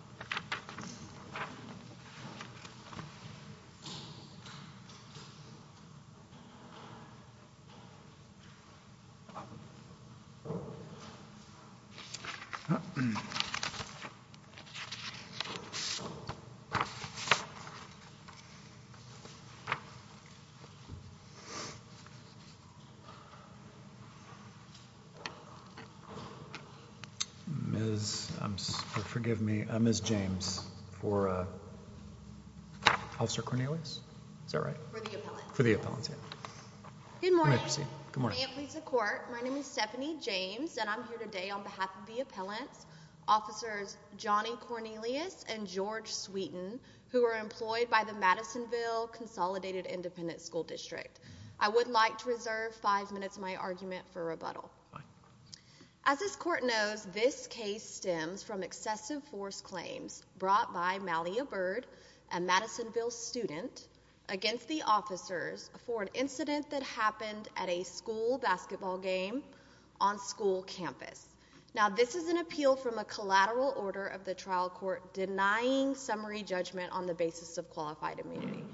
Good morning. My name is Stephanie James and I'm here today on behalf of the Appellants, Officers Johnny Cornelius and George Sweeten, who are employed by the Madisonville Consolidated Independent School District. I would like to reserve five minutes of my argument for brought by Malia Byrd, a Madisonville student, against the officers for an incident that happened at a school basketball game on school campus. Now this is an appeal from a collateral order of the trial court denying summary judgment on the basis of qualified immunity.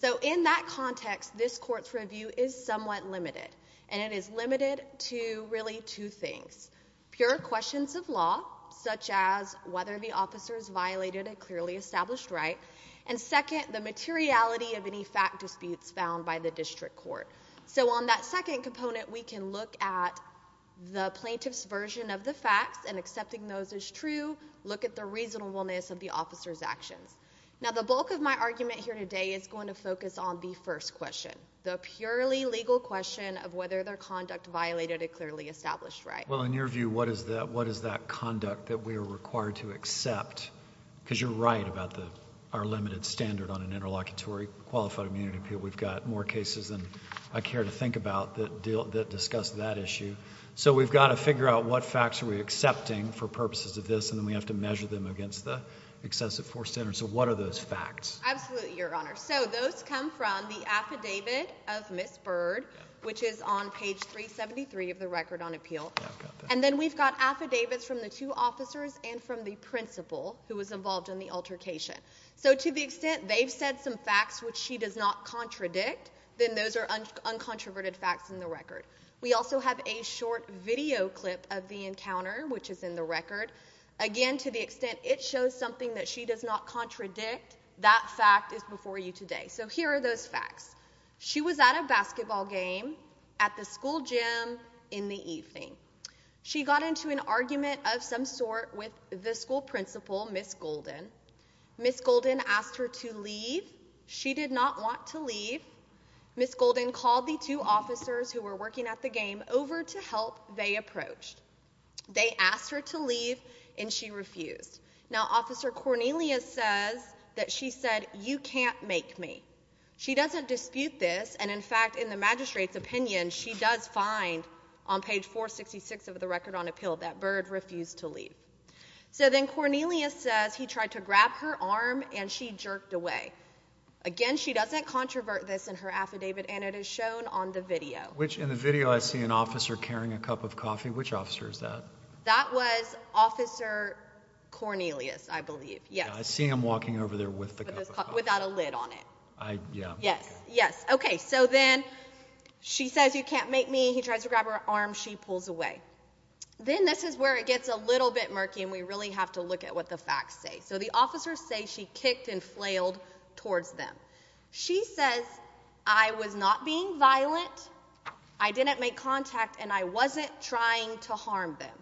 So in that context, this court's review is somewhat limited and it is limited to really two things. Pure questions of law, such as whether the officers violated a clearly established right, and second, the materiality of any fact disputes found by the district court. So on that second component we can look at the plaintiff's version of the facts and accepting those as true, look at the reasonableness of the officer's actions. Now the bulk of my argument here today is going to focus on the first question, the purely legal question of whether their view, what is that conduct that we are required to accept? Because you're right about our limited standard on an interlocutory qualified immunity appeal. We've got more cases than I care to think about that discuss that issue. So we've got to figure out what facts are we accepting for purposes of this and then we have to measure them against the excessive force standard. So what are those facts? Absolutely, Your Honor. So those come from the affidavit of Ms. Byrd, which is on page 373 of the record on appeal. And then we've got affidavits from the two officers and from the principal who was involved in the altercation. So to the extent they've said some facts which she does not contradict, then those are uncontroverted facts in the record. We also have a short video clip of the encounter, which is in the record. Again, to the extent it shows something that she does not contradict, that fact is for you today. So here are those facts. She was at a basketball game at the school gym in the evening. She got into an argument of some sort with the school principal, Ms. Golden. Ms. Golden asked her to leave. She did not want to leave. Ms. Golden called the two officers who were working at the game over to help they approached. They asked her to leave and she refused. Now, Officer Cornelius says that she said, you can't make me. She doesn't dispute this. And in fact, in the magistrate's opinion, she does find on page 466 of the record on appeal that Byrd refused to leave. So then Cornelius says he tried to grab her arm and she jerked away. Again, she doesn't controvert this in her affidavit and it is shown on the video. Which in the video I see an officer carrying a cup of coffee. Which officer is that? That was Officer Cornelius, I believe. Yes. I see him walking over there with the cup of coffee. Without a lid on it. I, yeah. Yes, yes. Okay, so then she says you can't make me, he tries to grab her arm, she pulls away. Then this is where it gets a little bit murky and we really have to look at what the facts say. So the officers say she kicked and flailed towards them. She says, I was not being violent, I didn't make contact and I wasn't trying to harm them.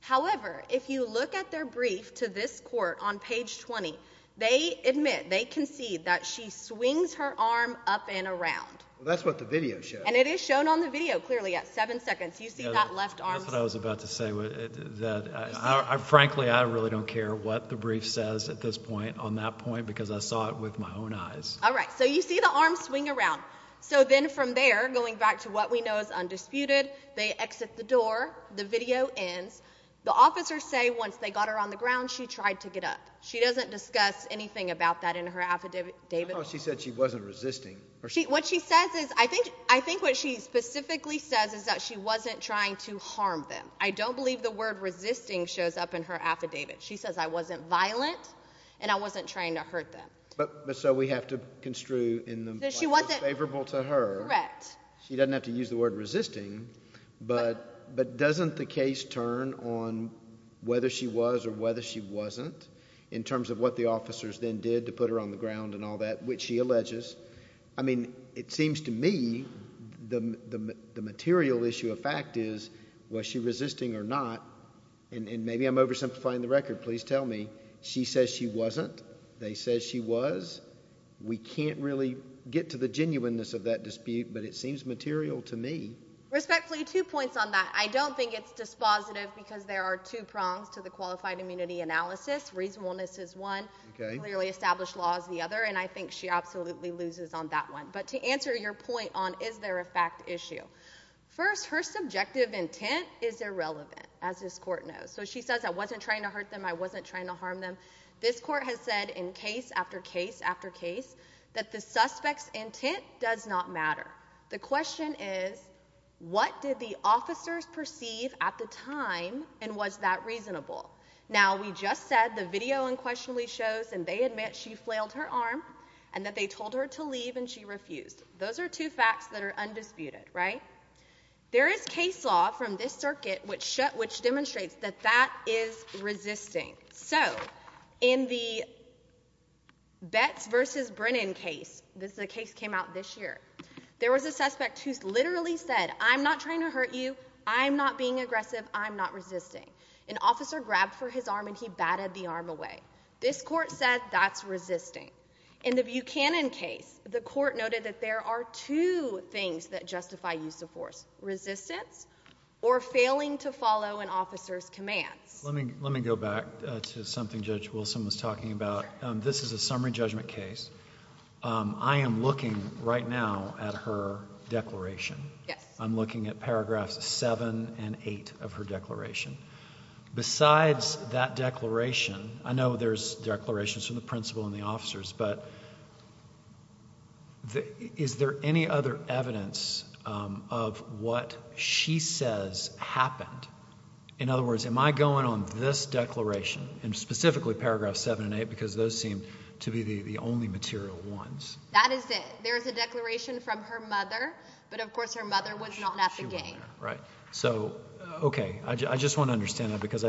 However, if you look at their brief to this court on page 20, they admit, they concede that she swings her arm up and around. Well, that's what the video shows. And it is shown on the video clearly at 7 seconds. You see that left arm. That's what I was about to say. Frankly, I really don't care what the brief says at this point on that point because I saw it with my own eyes. Alright, so you see the what we know is undisputed. They exit the door. The video ends. The officers say once they got her on the ground, she tried to get up. She doesn't discuss anything about that in her affidavit. She said she wasn't resisting. What she says is, I think what she specifically says is that she wasn't trying to harm them. I don't believe the word resisting shows up in her affidavit. She says I wasn't violent and I wasn't trying to hurt them. But so we have to construe in the most favorable to her, she doesn't have to use the word resisting, but doesn't the case turn on whether she was or whether she wasn't in terms of what the officers then did to put her on the ground and all that, which she alleges. I mean, it seems to me the material issue of fact is, was she resisting or not? And maybe I'm oversimplifying the record. Please tell me she says she wasn't. They say she was. We can't really get to the genuineness of that dispute, but it seems material to me. Respectfully, two points on that. I don't think it's dispositive because there are two prongs to the qualified immunity analysis. Reasonableness is one. Clearly established law is the other, and I think she absolutely loses on that one. But to answer your point on is there a fact issue. First, her subjective harm them. This court has said in case after case after case that the suspect's intent does not matter. The question is, what did the officers perceive at the time and was that reasonable? Now, we just said the video unquestionably shows and they admit she flailed her arm and that they told her to leave and she refused. Those are two facts that are undisputed, right? There is case law from this circuit which demonstrates that that is resisting. So in the Betts versus Brennan case, this is a case came out this year. There was a suspect who's literally said, I'm not trying to hurt you. I'm not being aggressive. I'm not resisting. An officer grabbed for his arm and he batted the arm away. This court said that's resisting in the Buchanan case. The court noted that there are two things that justify use of force resistance or failing to follow an officer's commands. Let me go back to something Judge Wilson was talking about. This is a summary judgment case. I am looking right now at her declaration. I'm looking at paragraphs seven and eight of her declaration. Besides that declaration, I know there's declarations from the principal and the officers, but is there any other evidence of what she says happened? In other words, am I going on this declaration and specifically paragraphs seven and eight because those seem to be the only material ones? That is it. There is a declaration from her mother, but of course her mother was not at the game. Okay. I just want to understand that because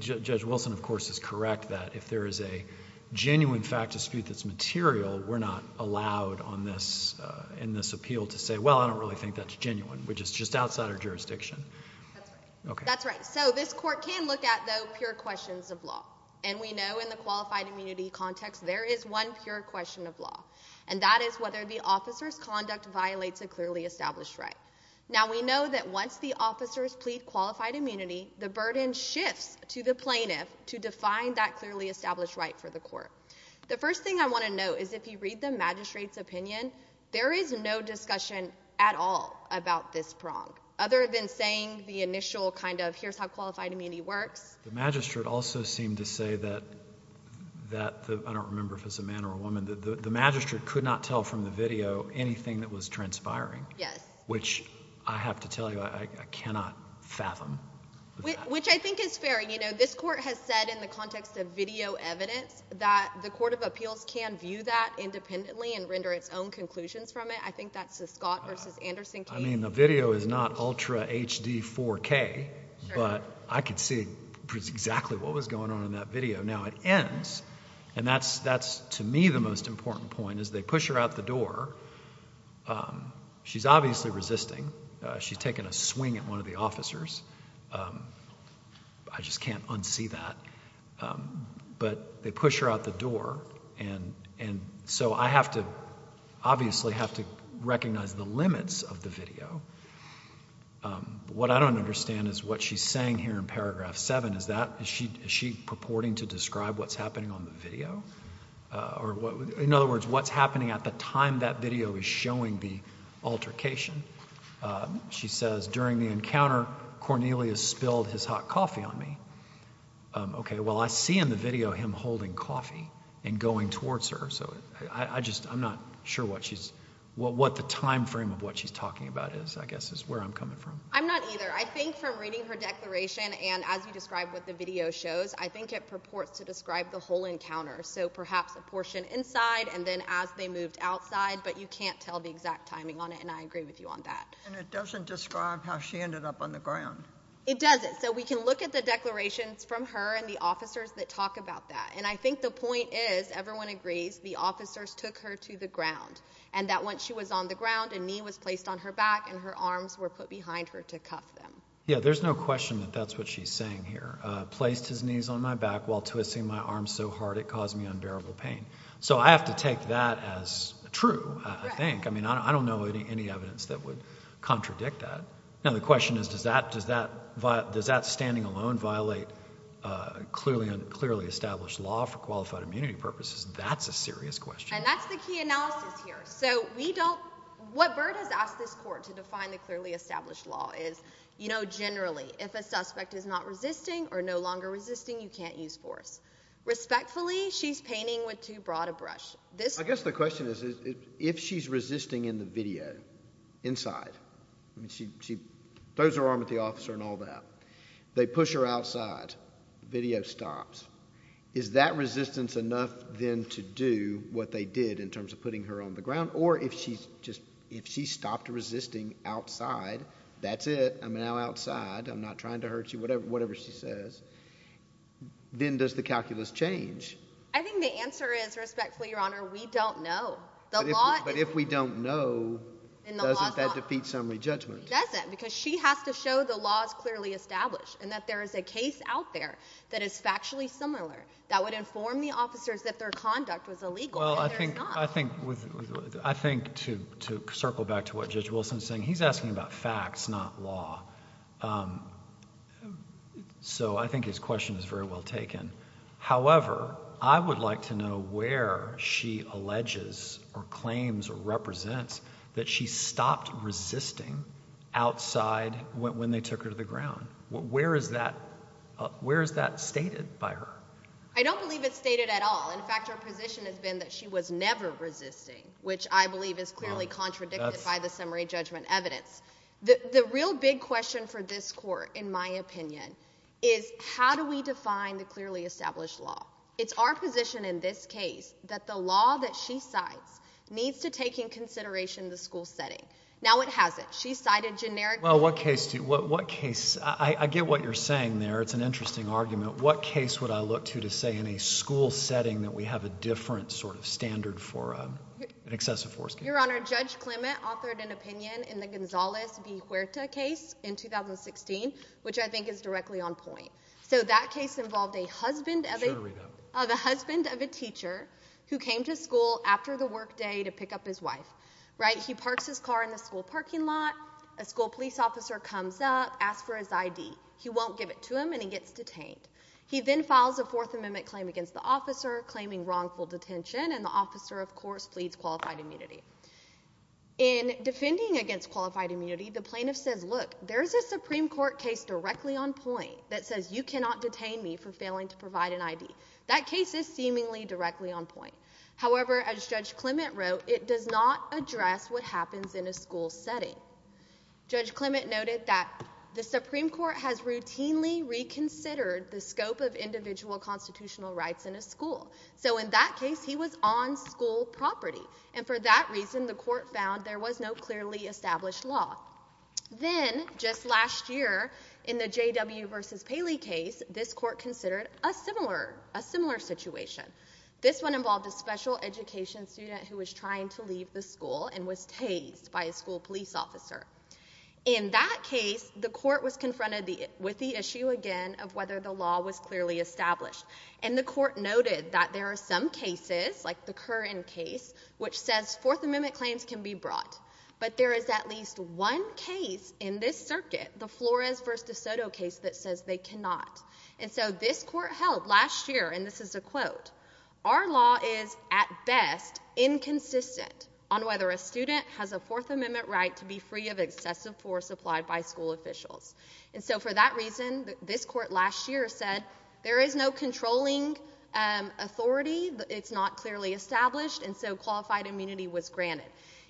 Judge Wilson, of course, is correct that if there is a genuine fact dispute that's material, we're not allowed in this appeal to say, well, I don't really think that's genuine, which is just outside our jurisdiction. That's right. So this court can look at the pure questions of law, and we know in the qualified immunity context there is one pure question of law, and that is whether the officer's conduct violates a clearly established right. Now, we know that once the officers plead qualified immunity, the burden shifts to the plaintiff to define that clearly established right for the court. The first thing I want to note is if you read the magistrate's opinion, there is no discussion at all about this prong, other than saying the initial kind of here's how qualified immunity works. The magistrate also seemed to say that—I don't remember if it was a man or a woman—the magistrate could not tell from the video anything that was transpiring, which I have to tell you I cannot fathom. Which I think is fair. This court has said in the context of video evidence that the court of appeals can view that independently and render its own conclusions from it. I think that's the Scott v. Anderson case. I mean, the video is not ultra HD 4K, but I could see exactly what was going on in that video. Now, it ends, and that's to me the most important point, is they push her out the door. She's obviously resisting. She's taken a swing at one of the officers. I just can't unsee that. But they push her out the door, and so I have to obviously have to recognize the limits of the video. What I don't understand is what she's saying here in paragraph 7. Is she purporting to describe what's happening on the video? In other words, what's happening at the time that video is showing the altercation? She says during the encounter, Cornelius spilled his hot coffee on me. OK, well, I see in the video him holding coffee and going towards her. So I just I'm not sure what she's what the time frame of what she's talking about is, I guess, is where I'm coming from. I'm not either. I think from reading her declaration and as you describe what the video shows, I think it purports to describe the whole encounter. So perhaps a portion inside and then as they moved outside. But you can't tell the exact timing on it. And I agree with you on that. And it doesn't describe how she ended up on the ground. It doesn't. So we can look at the declarations from her and the officers that talk about that. And I think the point is, everyone agrees the officers took her to the ground and that once she was on the ground, a knee was placed on her back and her arms were put behind her to cuff them. Yeah, there's no question that that's what she's saying here. Placed his knees on my back while twisting my arms so hard it caused me unbearable pain. So I have to take that as true, I think. I mean, I don't know any evidence that would contradict that. Now, the question is, does that does that does that standing alone violate clearly and clearly established law for qualified immunity purposes? That's a serious question. And that's the key analysis here. So we don't what Bird has asked this court to define the clearly established law is, you know, generally, if a suspect is not resisting or no longer resisting, you can't use force. Respectfully, she's painting with too broad a brush. I guess the question is, if she's resisting in the video inside and she throws her arm at the officer and all that, they push her outside. Video stops. Is that resistance enough then to do what they did in terms of putting her on the ground? Or if she's just if she stopped resisting outside, that's it. I'm now outside. I'm not trying to hurt you. Whatever whatever she says, then does the calculus change? I think the answer is, respectfully, Your Honor, we don't know the law. But if we don't know that defeat summary judgment, doesn't because she has to show the laws clearly established and that there is a case out there that is factually similar that would inform the officers that their conduct was illegal. Well, I think I think with I think to to circle back to what Judge Wilson's saying, he's asking about facts, not law. So I think his question is very well taken. However, I would like to know where she alleges or claims or represents that she stopped resisting outside when they took her to the ground. Where is that? Where is that stated by her? I don't believe it's stated at all. In fact, our position has been that she was never resisting, which I believe is clearly contradicted by the summary judgment evidence. The real big question for this court, in my opinion, is how do we define the clearly established law? It's our position in this case that the law that she sides needs to take in consideration the school setting. Now it has it. She cited generic. Well, what case to what case? I get what you're saying there. It's an interesting argument. What case would I look to to say in a school setting that we have a different sort of standard for an excessive force? Your Honor, Judge Clement authored an opinion in the Gonzalez v. Huerta case in 2016, which I think is directly on point. So that case involved a husband of a husband of a teacher who came to school after the workday to pick up his wife. Right. He parks his car in the school parking lot. A school police officer comes up, asks for his I.D. He won't give it to him and he gets detained. He then files a Fourth Amendment claim against the officer claiming wrongful detention. And the officer, of course, pleads qualified immunity in defending against qualified immunity. The plaintiff says, look, there is a Supreme Court case directly on point that says you cannot detain me for failing to provide an I.D. That case is seemingly directly on point. However, as Judge Clement wrote, it does not address what happens in a school setting. Judge Clement noted that the Supreme Court has routinely reconsidered the scope of individual constitutional rights in a school. So in that case, he was on school property. And for that reason, the court found there was no clearly established law. Then just last year in the J.W. versus Paley case, this court considered a similar a similar situation. This one involved a special education student who was trying to leave the school and was tased by a school police officer. In that case, the court was confronted with the issue again of whether the law was clearly established. And the court noted that there are some cases, like the Curran case, which says Fourth Amendment claims can be brought. But there is at least one case in this circuit, the Flores versus DeSoto case, that says they cannot. And so this court held last year, and this is a quote, our law is at best inconsistent on whether a student has a Fourth Amendment right to be free of excessive force applied by school officials. And so for that reason, this court last year said there is no controlling authority. It's not clearly established. And so qualified immunity was granted.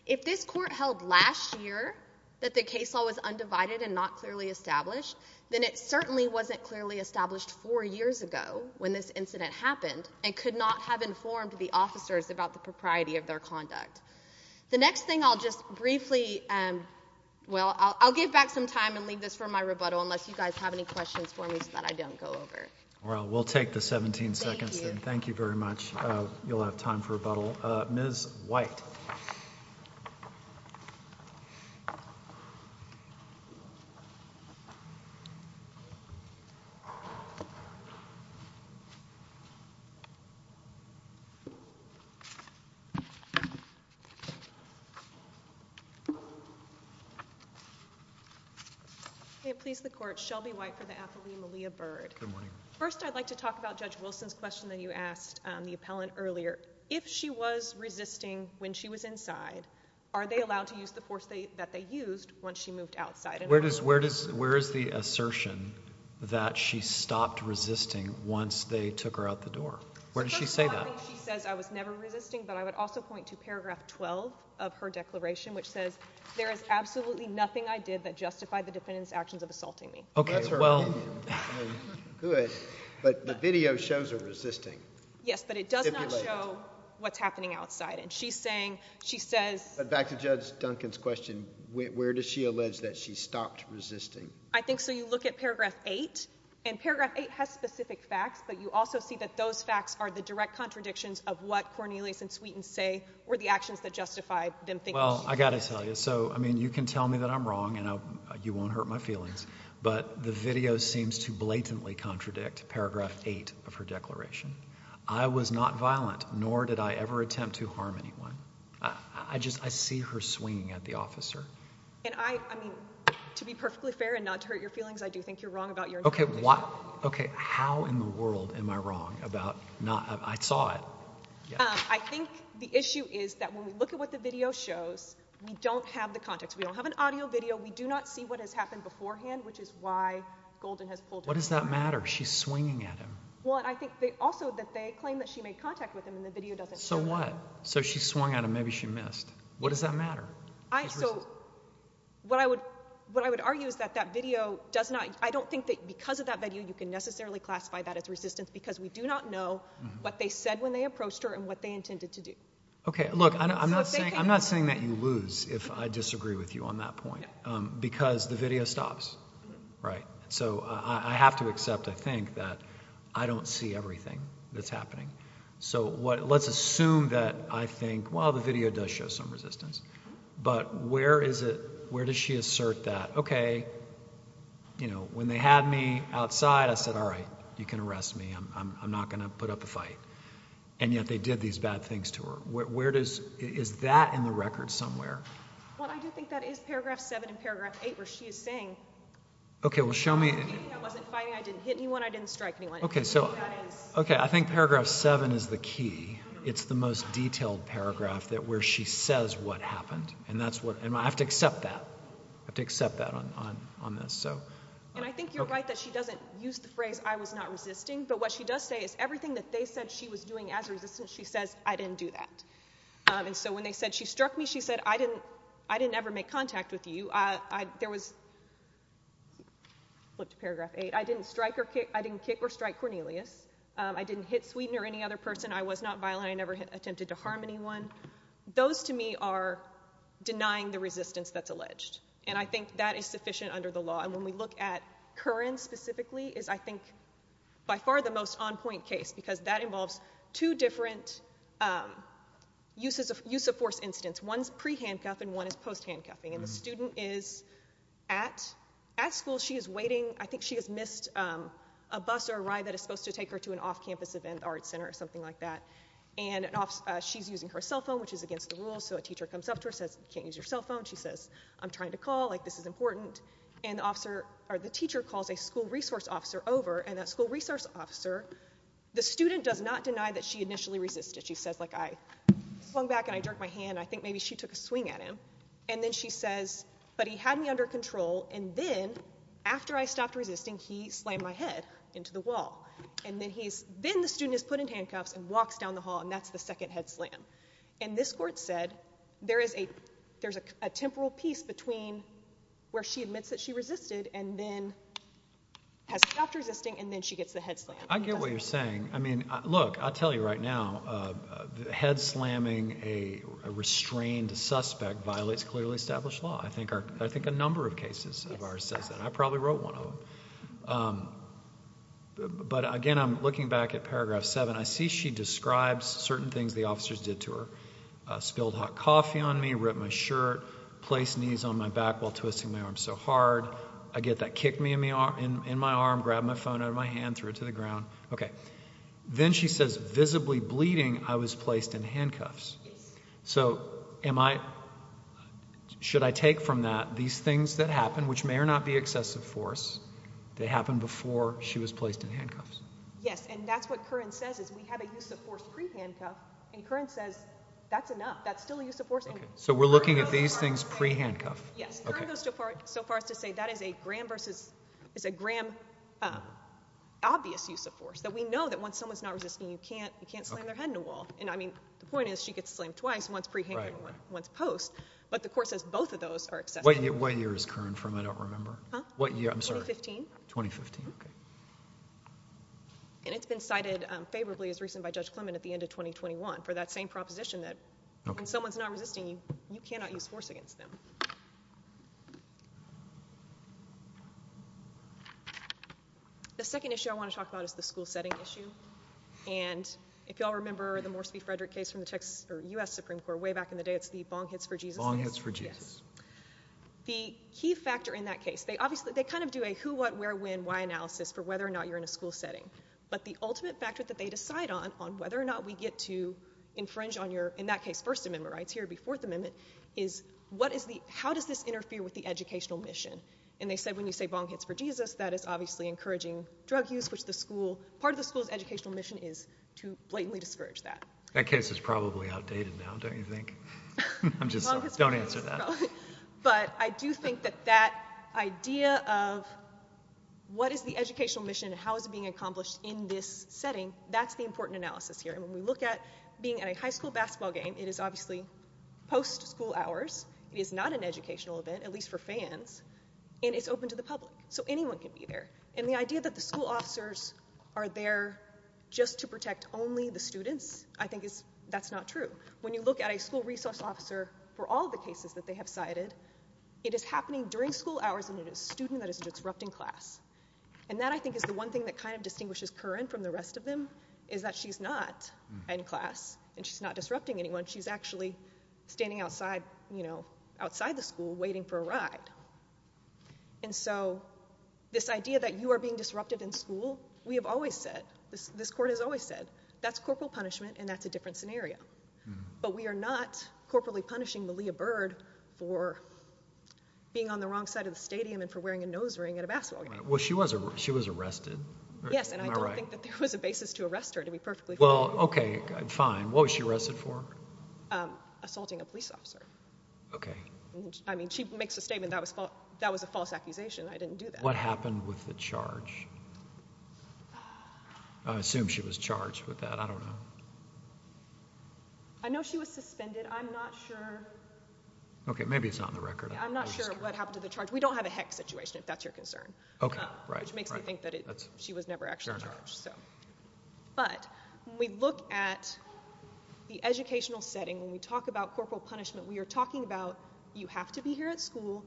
If this court held last year that the case law was undivided and not clearly established, then it certainly wasn't clearly established four years ago when this incident happened and could not have informed the officers about the propriety of their conduct. The next thing I'll just briefly. Well, I'll give back some time and leave this for my rebuttal unless you guys have any questions for me that I don't go over. Well, we'll take the 17 seconds. Thank you very much. You'll have time for rebuttal. Ms. White. Please, the court. Shelby White for the athlete, Malia Bird. First, I'd like to talk about Judge Wilson's question that you asked the appellant earlier. If she was resisting when she was inside, are they allowed to use the force that they used once she moved outside? Where is the assertion that she stopped resisting once they took her out the door? Where did she say that? She says I was never resisting, but I would also point to paragraph 12 of her declaration, which says there is absolutely nothing I did that justified the defendant's actions of assaulting me. Okay. Well. Good. But the video shows her resisting. Yes, but it does not show what's happening outside. And she's saying, she says. But back to Judge Duncan's question, where does she allege that she stopped resisting? I think so you look at paragraph 8, and paragraph 8 has specific facts, but you also see that those facts are the direct contradictions of what Cornelius and Sweeten say were the actions that justified them thinking. Well, I got to tell you. So, I mean, you can tell me that I'm wrong and you won't hurt my feelings, but the video seems to blatantly contradict paragraph 8 of her declaration. I was not violent, nor did I ever attempt to harm anyone. I just I see her swinging at the officer. And I mean, to be perfectly fair and not to hurt your feelings, I do think you're wrong about your. Okay. Okay. How in the world am I wrong about not? I saw it. I think the issue is that when we look at what the video shows, we don't have the context. We don't have an audio video. We do not see what has happened beforehand, which is why Golden has pulled. What does that matter? She's swinging at him. Well, I think they also that they claim that she made contact with him and the video doesn't. So what? So she swung at him. Maybe she missed. What does that matter? So what I would what I would argue is that that video does not. I don't think that because of that video, you can necessarily classify that as resistance because we do not know what they said when they approached her and what they intended to do. Okay. Look, I'm not saying I'm not saying that you lose if I disagree with you on that point, because the video stops. Right. So I have to accept. I think that I don't see everything that's happening. So what? Let's assume that I think, well, the video does show some resistance, but where is it? Where does she assert that? Okay. You know, when they had me outside, I said, all right, you can arrest me. I'm not going to put up a fight. And yet they did these bad things to her. Where does is that in the record somewhere? Well, I do think that is paragraph seven and paragraph eight where she is saying, okay, well, show me. I didn't hit anyone. I didn't strike anyone. Okay. I think paragraph seven is the key. It's the most detailed paragraph where she says what happened. And I have to accept that. I have to accept that on this. And I think you're right that she doesn't use the phrase I was not resisting. But what she does say is everything that they said she was doing as a resistance, she says I didn't do that. And so when they said she struck me, she said I didn't ever make contact with you. Flip to paragraph eight. I didn't strike or kick. I didn't kick or strike Cornelius. I didn't hit Sweetener or any other person. I was not violent. I never attempted to harm anyone. Those to me are denying the resistance that's alleged. And I think that is sufficient under the law. And when we look at Curran specifically is, I think, by far the most on-point case because that involves two different use of force incidents. One is pre-handcuff and one is post-handcuffing. And the student is at school. She is waiting. I think she has missed a bus or a ride that is supposed to take her to an off-campus event or arts center or something like that. And she's using her cell phone, which is against the rules. So a teacher comes up to her and says, you can't use your cell phone. She says, I'm trying to call. Like, this is important. And the teacher calls a school resource officer over. And that school resource officer, the student does not deny that she initially resisted. She says, like, I swung back and I jerked my hand. I think maybe she took a swing at him. And then she says, but he had me under control. And then, after I stopped resisting, he slammed my head into the wall. And then the student is put in handcuffs and walks down the hall, and that's the second head slam. And this court said there is a temporal piece between where she admits that she resisted and then has stopped resisting, and then she gets the head slam. I get what you're saying. I mean, look, I'll tell you right now, head slamming a restrained suspect violates clearly established law. I think a number of cases of ours says that. I probably wrote one of them. But, again, I'm looking back at paragraph 7. I see she describes certain things the officers did to her. Spilled hot coffee on me, ripped my shirt, placed knees on my back while twisting my arm so hard. I get that kick in my arm, grabbed my phone out of my hand, threw it to the ground. Okay. Then she says, visibly bleeding, I was placed in handcuffs. So should I take from that these things that happen, which may or not be excessive force, they happened before she was placed in handcuffs? Yes, and that's what Curran says is we have a use of force pre-handcuff, and Curran says that's enough. That's still a use of force. So we're looking at these things pre-handcuff. Yes, Curran goes so far as to say that is a grand obvious use of force, that we know that once someone's not resisting, you can't slam their head in a wall. And, I mean, the point is she gets slammed twice, once pre-handcuff and once post. But the court says both of those are excessive. What year is Curran from? I don't remember. Huh? What year? I'm sorry. 2015. 2015. Okay. And it's been cited favorably as recent by Judge Clement at the end of 2021 for that same proposition that when someone's not resisting, you cannot use force against them. Thank you. The second issue I want to talk about is the school setting issue. And if you all remember the Morsi v. Frederick case from the Texas or U.S. Supreme Court way back in the day, it's the bong hits for Jesus. Bong hits for Jesus. Yes. The key factor in that case, they kind of do a who, what, where, when, why analysis for whether or not you're in a school setting. But the ultimate factor that they decide on, on whether or not we get to infringe on your, in that case, First Amendment rights here before the amendment, is what is the, how does this interfere with the educational mission? And they said when you say bong hits for Jesus, that is obviously encouraging drug use, which the school, part of the school's educational mission is to blatantly discourage that. That case is probably outdated now, don't you think? I'm just, don't answer that. But I do think that that idea of what is the educational mission and how is it being accomplished in this setting, that's the important analysis here. And when we look at being at a high school basketball game, it is obviously post-school hours, it is not an educational event, at least for fans, and it's open to the public. So anyone can be there. And the idea that the school officers are there just to protect only the students, I think is, that's not true. When you look at a school resource officer, for all the cases that they have cited, it is happening during school hours and it is a student that is disrupting class. And that, I think, is the one thing that kind of distinguishes Curran from the rest of them, is that she's not in class and she's not disrupting anyone. She's actually standing outside, you know, outside the school waiting for a ride. And so this idea that you are being disrupted in school, we have always said, this court has always said, that's corporal punishment and that's a different scenario. But we are not corporally punishing Malia Bird for being on the wrong side of the stadium and for wearing a nose ring at a basketball game. Well, she was arrested. Yes, and I don't think that there was a basis to arrest her, to be perfectly clear. Well, okay, fine. What was she arrested for? Assaulting a police officer. Okay. I mean, she makes a statement, that was a false accusation. I didn't do that. What happened with the charge? I assume she was charged with that. I don't know. I know she was suspended. I'm not sure. Okay, maybe it's not in the record. I'm not sure what happened to the charge. We don't have a heck situation, if that's your concern. Okay, right. Which makes me think that she was never actually charged. Fair enough. But when we look at the educational setting, when we talk about corporal punishment, we are talking about you have to be here at school.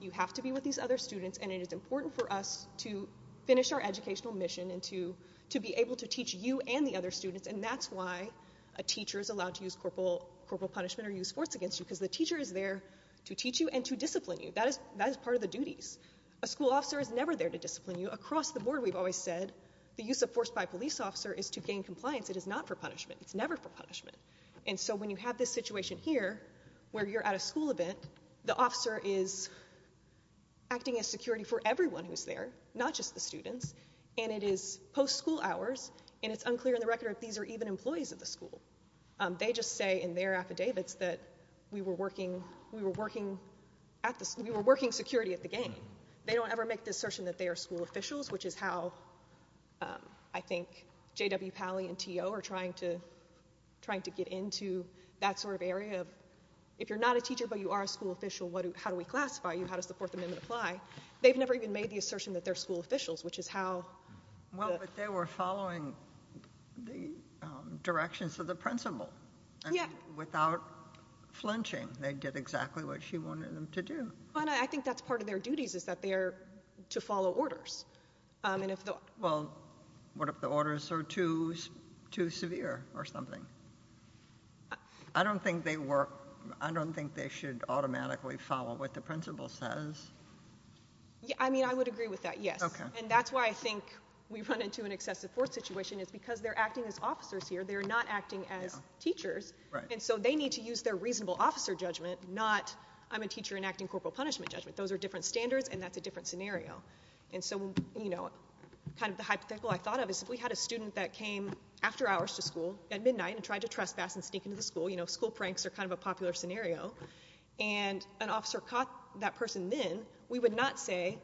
You have to be with these other students. And it is important for us to finish our educational mission and to be able to teach you and the other students. And that's why a teacher is allowed to use corporal punishment or use force against you, because the teacher is there to teach you and to discipline you. That is part of the duties. A school officer is never there to discipline you. Across the board, we've always said the use of force by a police officer is to gain compliance. It is not for punishment. It's never for punishment. And so when you have this situation here where you're at a school event, the officer is acting as security for everyone who's there, not just the students. And it is post-school hours, and it's unclear in the record if these are even employees of the school. They just say in their affidavits that we were working security at the game. They don't ever make the assertion that they are school officials, which is how I think J.W. Pally and T.O. are trying to get into that sort of area. If you're not a teacher but you are a school official, how do we classify you? How does the Fourth Amendment apply? They've never even made the assertion that they're school officials, which is how the — Well, but they were following the directions of the principal. Yeah. And without flinching, they did exactly what she wanted them to do. I think that's part of their duties, is that they are to follow orders. Well, what if the orders are too severe or something? I don't think they should automatically follow what the principal says. I mean, I would agree with that, yes. And that's why I think we run into an excessive force situation is because they're acting as officers here. They're not acting as teachers. Right. And so they need to use their reasonable officer judgment, not I'm a teacher enacting corporal punishment judgment. Those are different standards, and that's a different scenario. And so, you know, kind of the hypothetical I thought of is if we had a student that came after hours to school at midnight and tried to trespass and sneak into the school, you know, school pranks are kind of a popular scenario, and an officer caught that person then, we would not say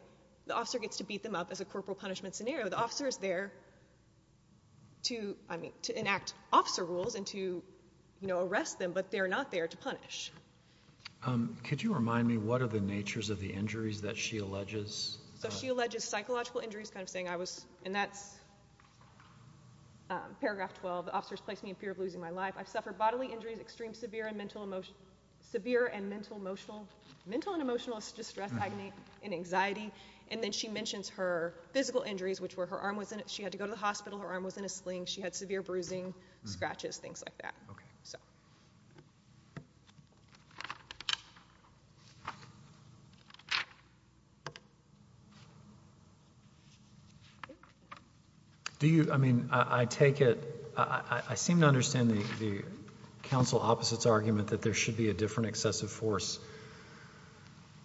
the officer gets to beat them up as a corporal punishment scenario. You know, the officer is there to enact officer rules and to, you know, arrest them, but they're not there to punish. Could you remind me what are the natures of the injuries that she alleges? So she alleges psychological injuries, kind of saying I was, and that's paragraph 12, the officer has placed me in fear of losing my life. I've suffered bodily injuries, extreme severe and mental emotional, severe and mental emotional, mental and emotional distress, agony, and anxiety. And then she mentions her physical injuries, which were her arm was in it. She had to go to the hospital. Her arm was in a sling. She had severe bruising, scratches, things like that. Okay. Do you, I mean, I take it, I seem to understand the counsel opposite's argument that there should be a different excessive force.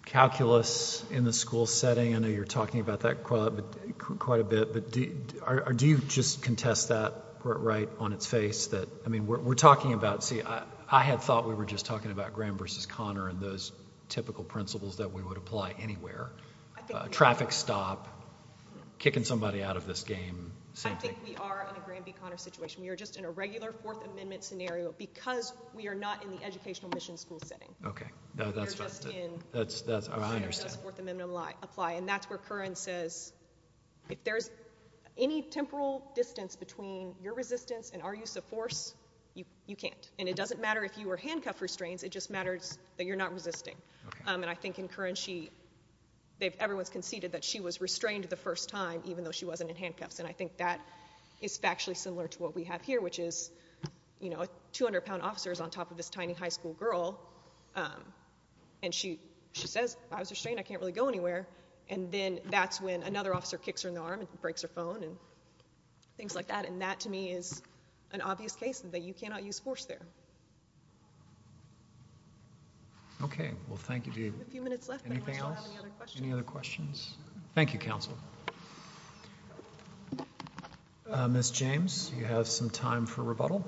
Calculus in the school setting, I know you're talking about that quite a bit, but do you just contest that right on its face that, I mean, we're talking about, see, I had thought we were just talking about Graham versus Conner and those typical principles that we would apply anywhere. Traffic stop, kicking somebody out of this game. I think we are in a Graham v. Conner situation. We are just in a regular Fourth Amendment scenario because we are not in the educational mission school setting. Okay. That's what I understand. And that's where Curran says if there's any temporal distance between your resistance and our use of force, you can't. And it doesn't matter if you were handcuffed restraints. It just matters that you're not resisting. And I think in Curran she, everyone's conceded that she was restrained the first time, even though she wasn't in handcuffs, and I think that is factually similar to what we have here, which is, you know, a 200-pound officer is on top of this tiny high school girl, and she says, I was restrained, I can't really go anywhere. And then that's when another officer kicks her in the arm and breaks her phone and things like that. And that, to me, is an obvious case that you cannot use force there. Okay. Well, thank you. We have a few minutes left. Anything else? Any other questions? Thank you, counsel. Ms. James, you have some time for rebuttal.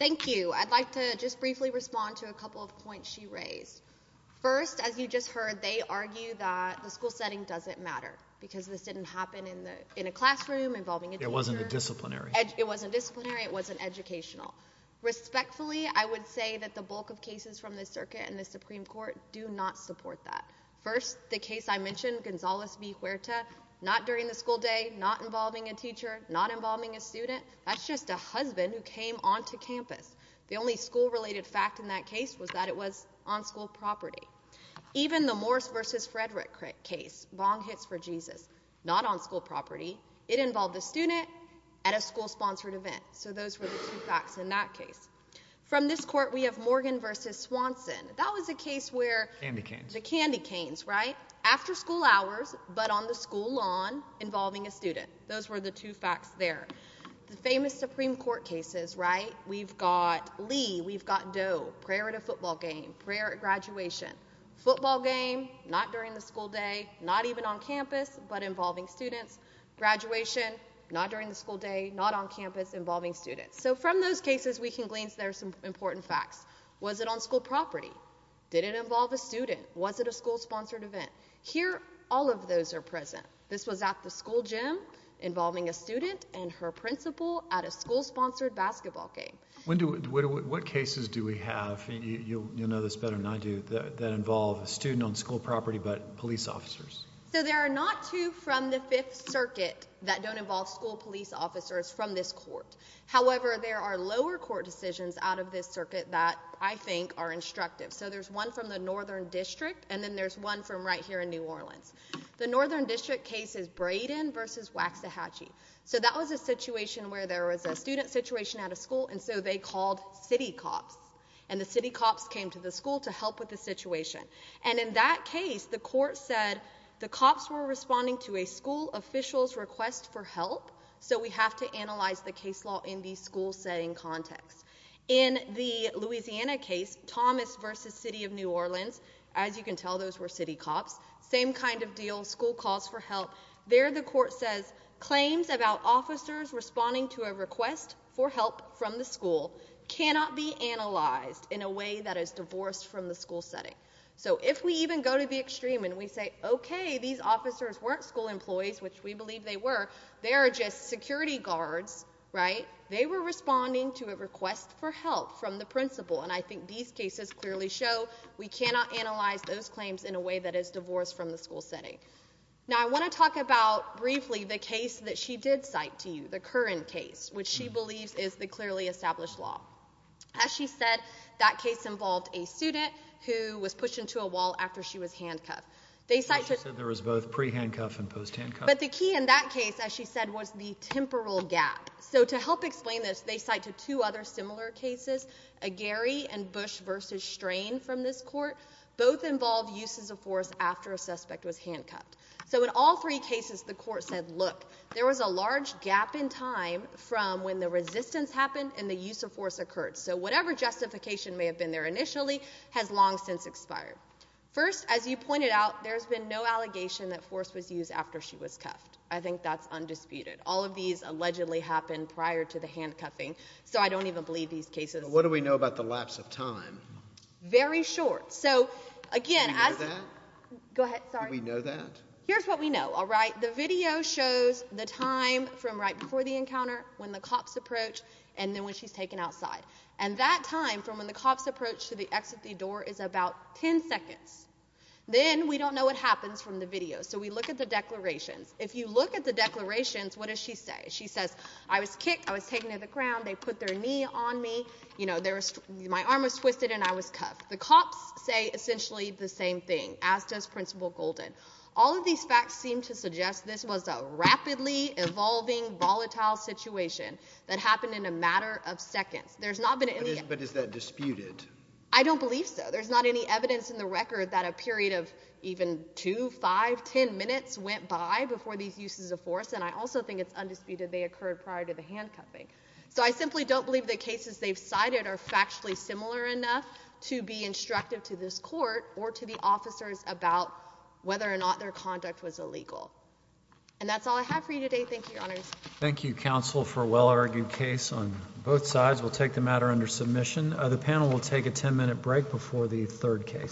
Thank you. I'd like to just briefly respond to a couple of points she raised. First, as you just heard, they argue that the school setting doesn't matter because this didn't happen in a classroom involving a teacher. It wasn't a disciplinary. It wasn't disciplinary. It wasn't educational. Respectfully, I would say that the bulk of cases from the circuit and the Supreme Court do not support that. First, the case I mentioned, Gonzalez v. Huerta, not during the school day, not involving a teacher, not involving a student. That's just a husband who came onto campus. The only school-related fact in that case was that it was on school property. Even the Morse v. Frederick case, bong hits for Jesus, not on school property. It involved a student at a school-sponsored event. So those were the two facts in that case. From this court, we have Morgan v. Swanson. That was a case where the candy canes, right? After school hours, but on the school lawn, involving a student. Those were the two facts there. The famous Supreme Court cases, right? We've got Lee. We've got Doe. Prayer at a football game, prayer at graduation. Football game, not during the school day, not even on campus, but involving students. Graduation, not during the school day, not on campus, involving students. So from those cases, we can glean some important facts. Was it on school property? Did it involve a student? Was it a school-sponsored event? Here, all of those are present. This was at the school gym involving a student and her principal at a school-sponsored basketball game. What cases do we have, and you'll know this better than I do, that involve a student on school property but police officers? So there are not two from the Fifth Circuit that don't involve school police officers from this court. However, there are lower court decisions out of this circuit that I think are instructive. So there's one from the Northern District, and then there's one from right here in New Orleans. The Northern District case is Brayden v. Waxahachie. So that was a situation where there was a student situation at a school, and so they called city cops. And the city cops came to the school to help with the situation. And in that case, the court said the cops were responding to a school official's request for help, so we have to analyze the case law in the school setting context. In the Louisiana case, Thomas v. City of New Orleans, as you can tell, those were city cops. Same kind of deal, school calls for help. There the court says claims about officers responding to a request for help from the school cannot be analyzed in a way that is divorced from the school setting. So if we even go to the extreme and we say, okay, these officers weren't school employees, which we believe they were, they are just security guards, right, they were responding to a request for help from the principal, and I think these cases clearly show we cannot analyze those claims in a way that is divorced from the school setting. Now I want to talk about briefly the case that she did cite to you, the Curran case, which she believes is the clearly established law. As she said, that case involved a student who was pushed into a wall after she was handcuffed. She said there was both pre-handcuff and post-handcuff. But the key in that case, as she said, was the temporal gap. So to help explain this, they cite to two other similar cases, Gary and Bush v. Strain from this court. Both involve uses of force after a suspect was handcuffed. So in all three cases, the court said, look, there was a large gap in time from when the resistance happened and the use of force occurred. So whatever justification may have been there initially has long since expired. First, as you pointed out, there's been no allegation that force was used after she was cuffed. I think that's undisputed. All of these allegedly happened prior to the handcuffing, so I don't even believe these cases. What do we know about the lapse of time? Very short. So, again, as— Do we know that? Go ahead, sorry. Do we know that? Here's what we know, all right. The video shows the time from right before the encounter, when the cops approach, and then when she's taken outside. And that time from when the cops approach to the exit of the door is about 10 seconds. Then we don't know what happens from the video, so we look at the declarations. If you look at the declarations, what does she say? She says, I was kicked, I was taken to the ground, they put their knee on me, you know, my arm was twisted and I was cuffed. The cops say essentially the same thing, as does Principal Golden. All of these facts seem to suggest this was a rapidly evolving, volatile situation that happened in a matter of seconds. There's not been any evidence— But is that disputed? I don't believe so. There's not any evidence in the record that a period of even two, five, ten minutes went by before these uses of force. And I also think it's undisputed they occurred prior to the handcuffing. So I simply don't believe the cases they've cited are factually similar enough to be instructive to this court or to the officers about whether or not their conduct was illegal. And that's all I have for you today. Thank you, Your Honors. Thank you, counsel, for a well-argued case on both sides. We'll take the matter under submission. The panel will take a 10-minute break before the third case.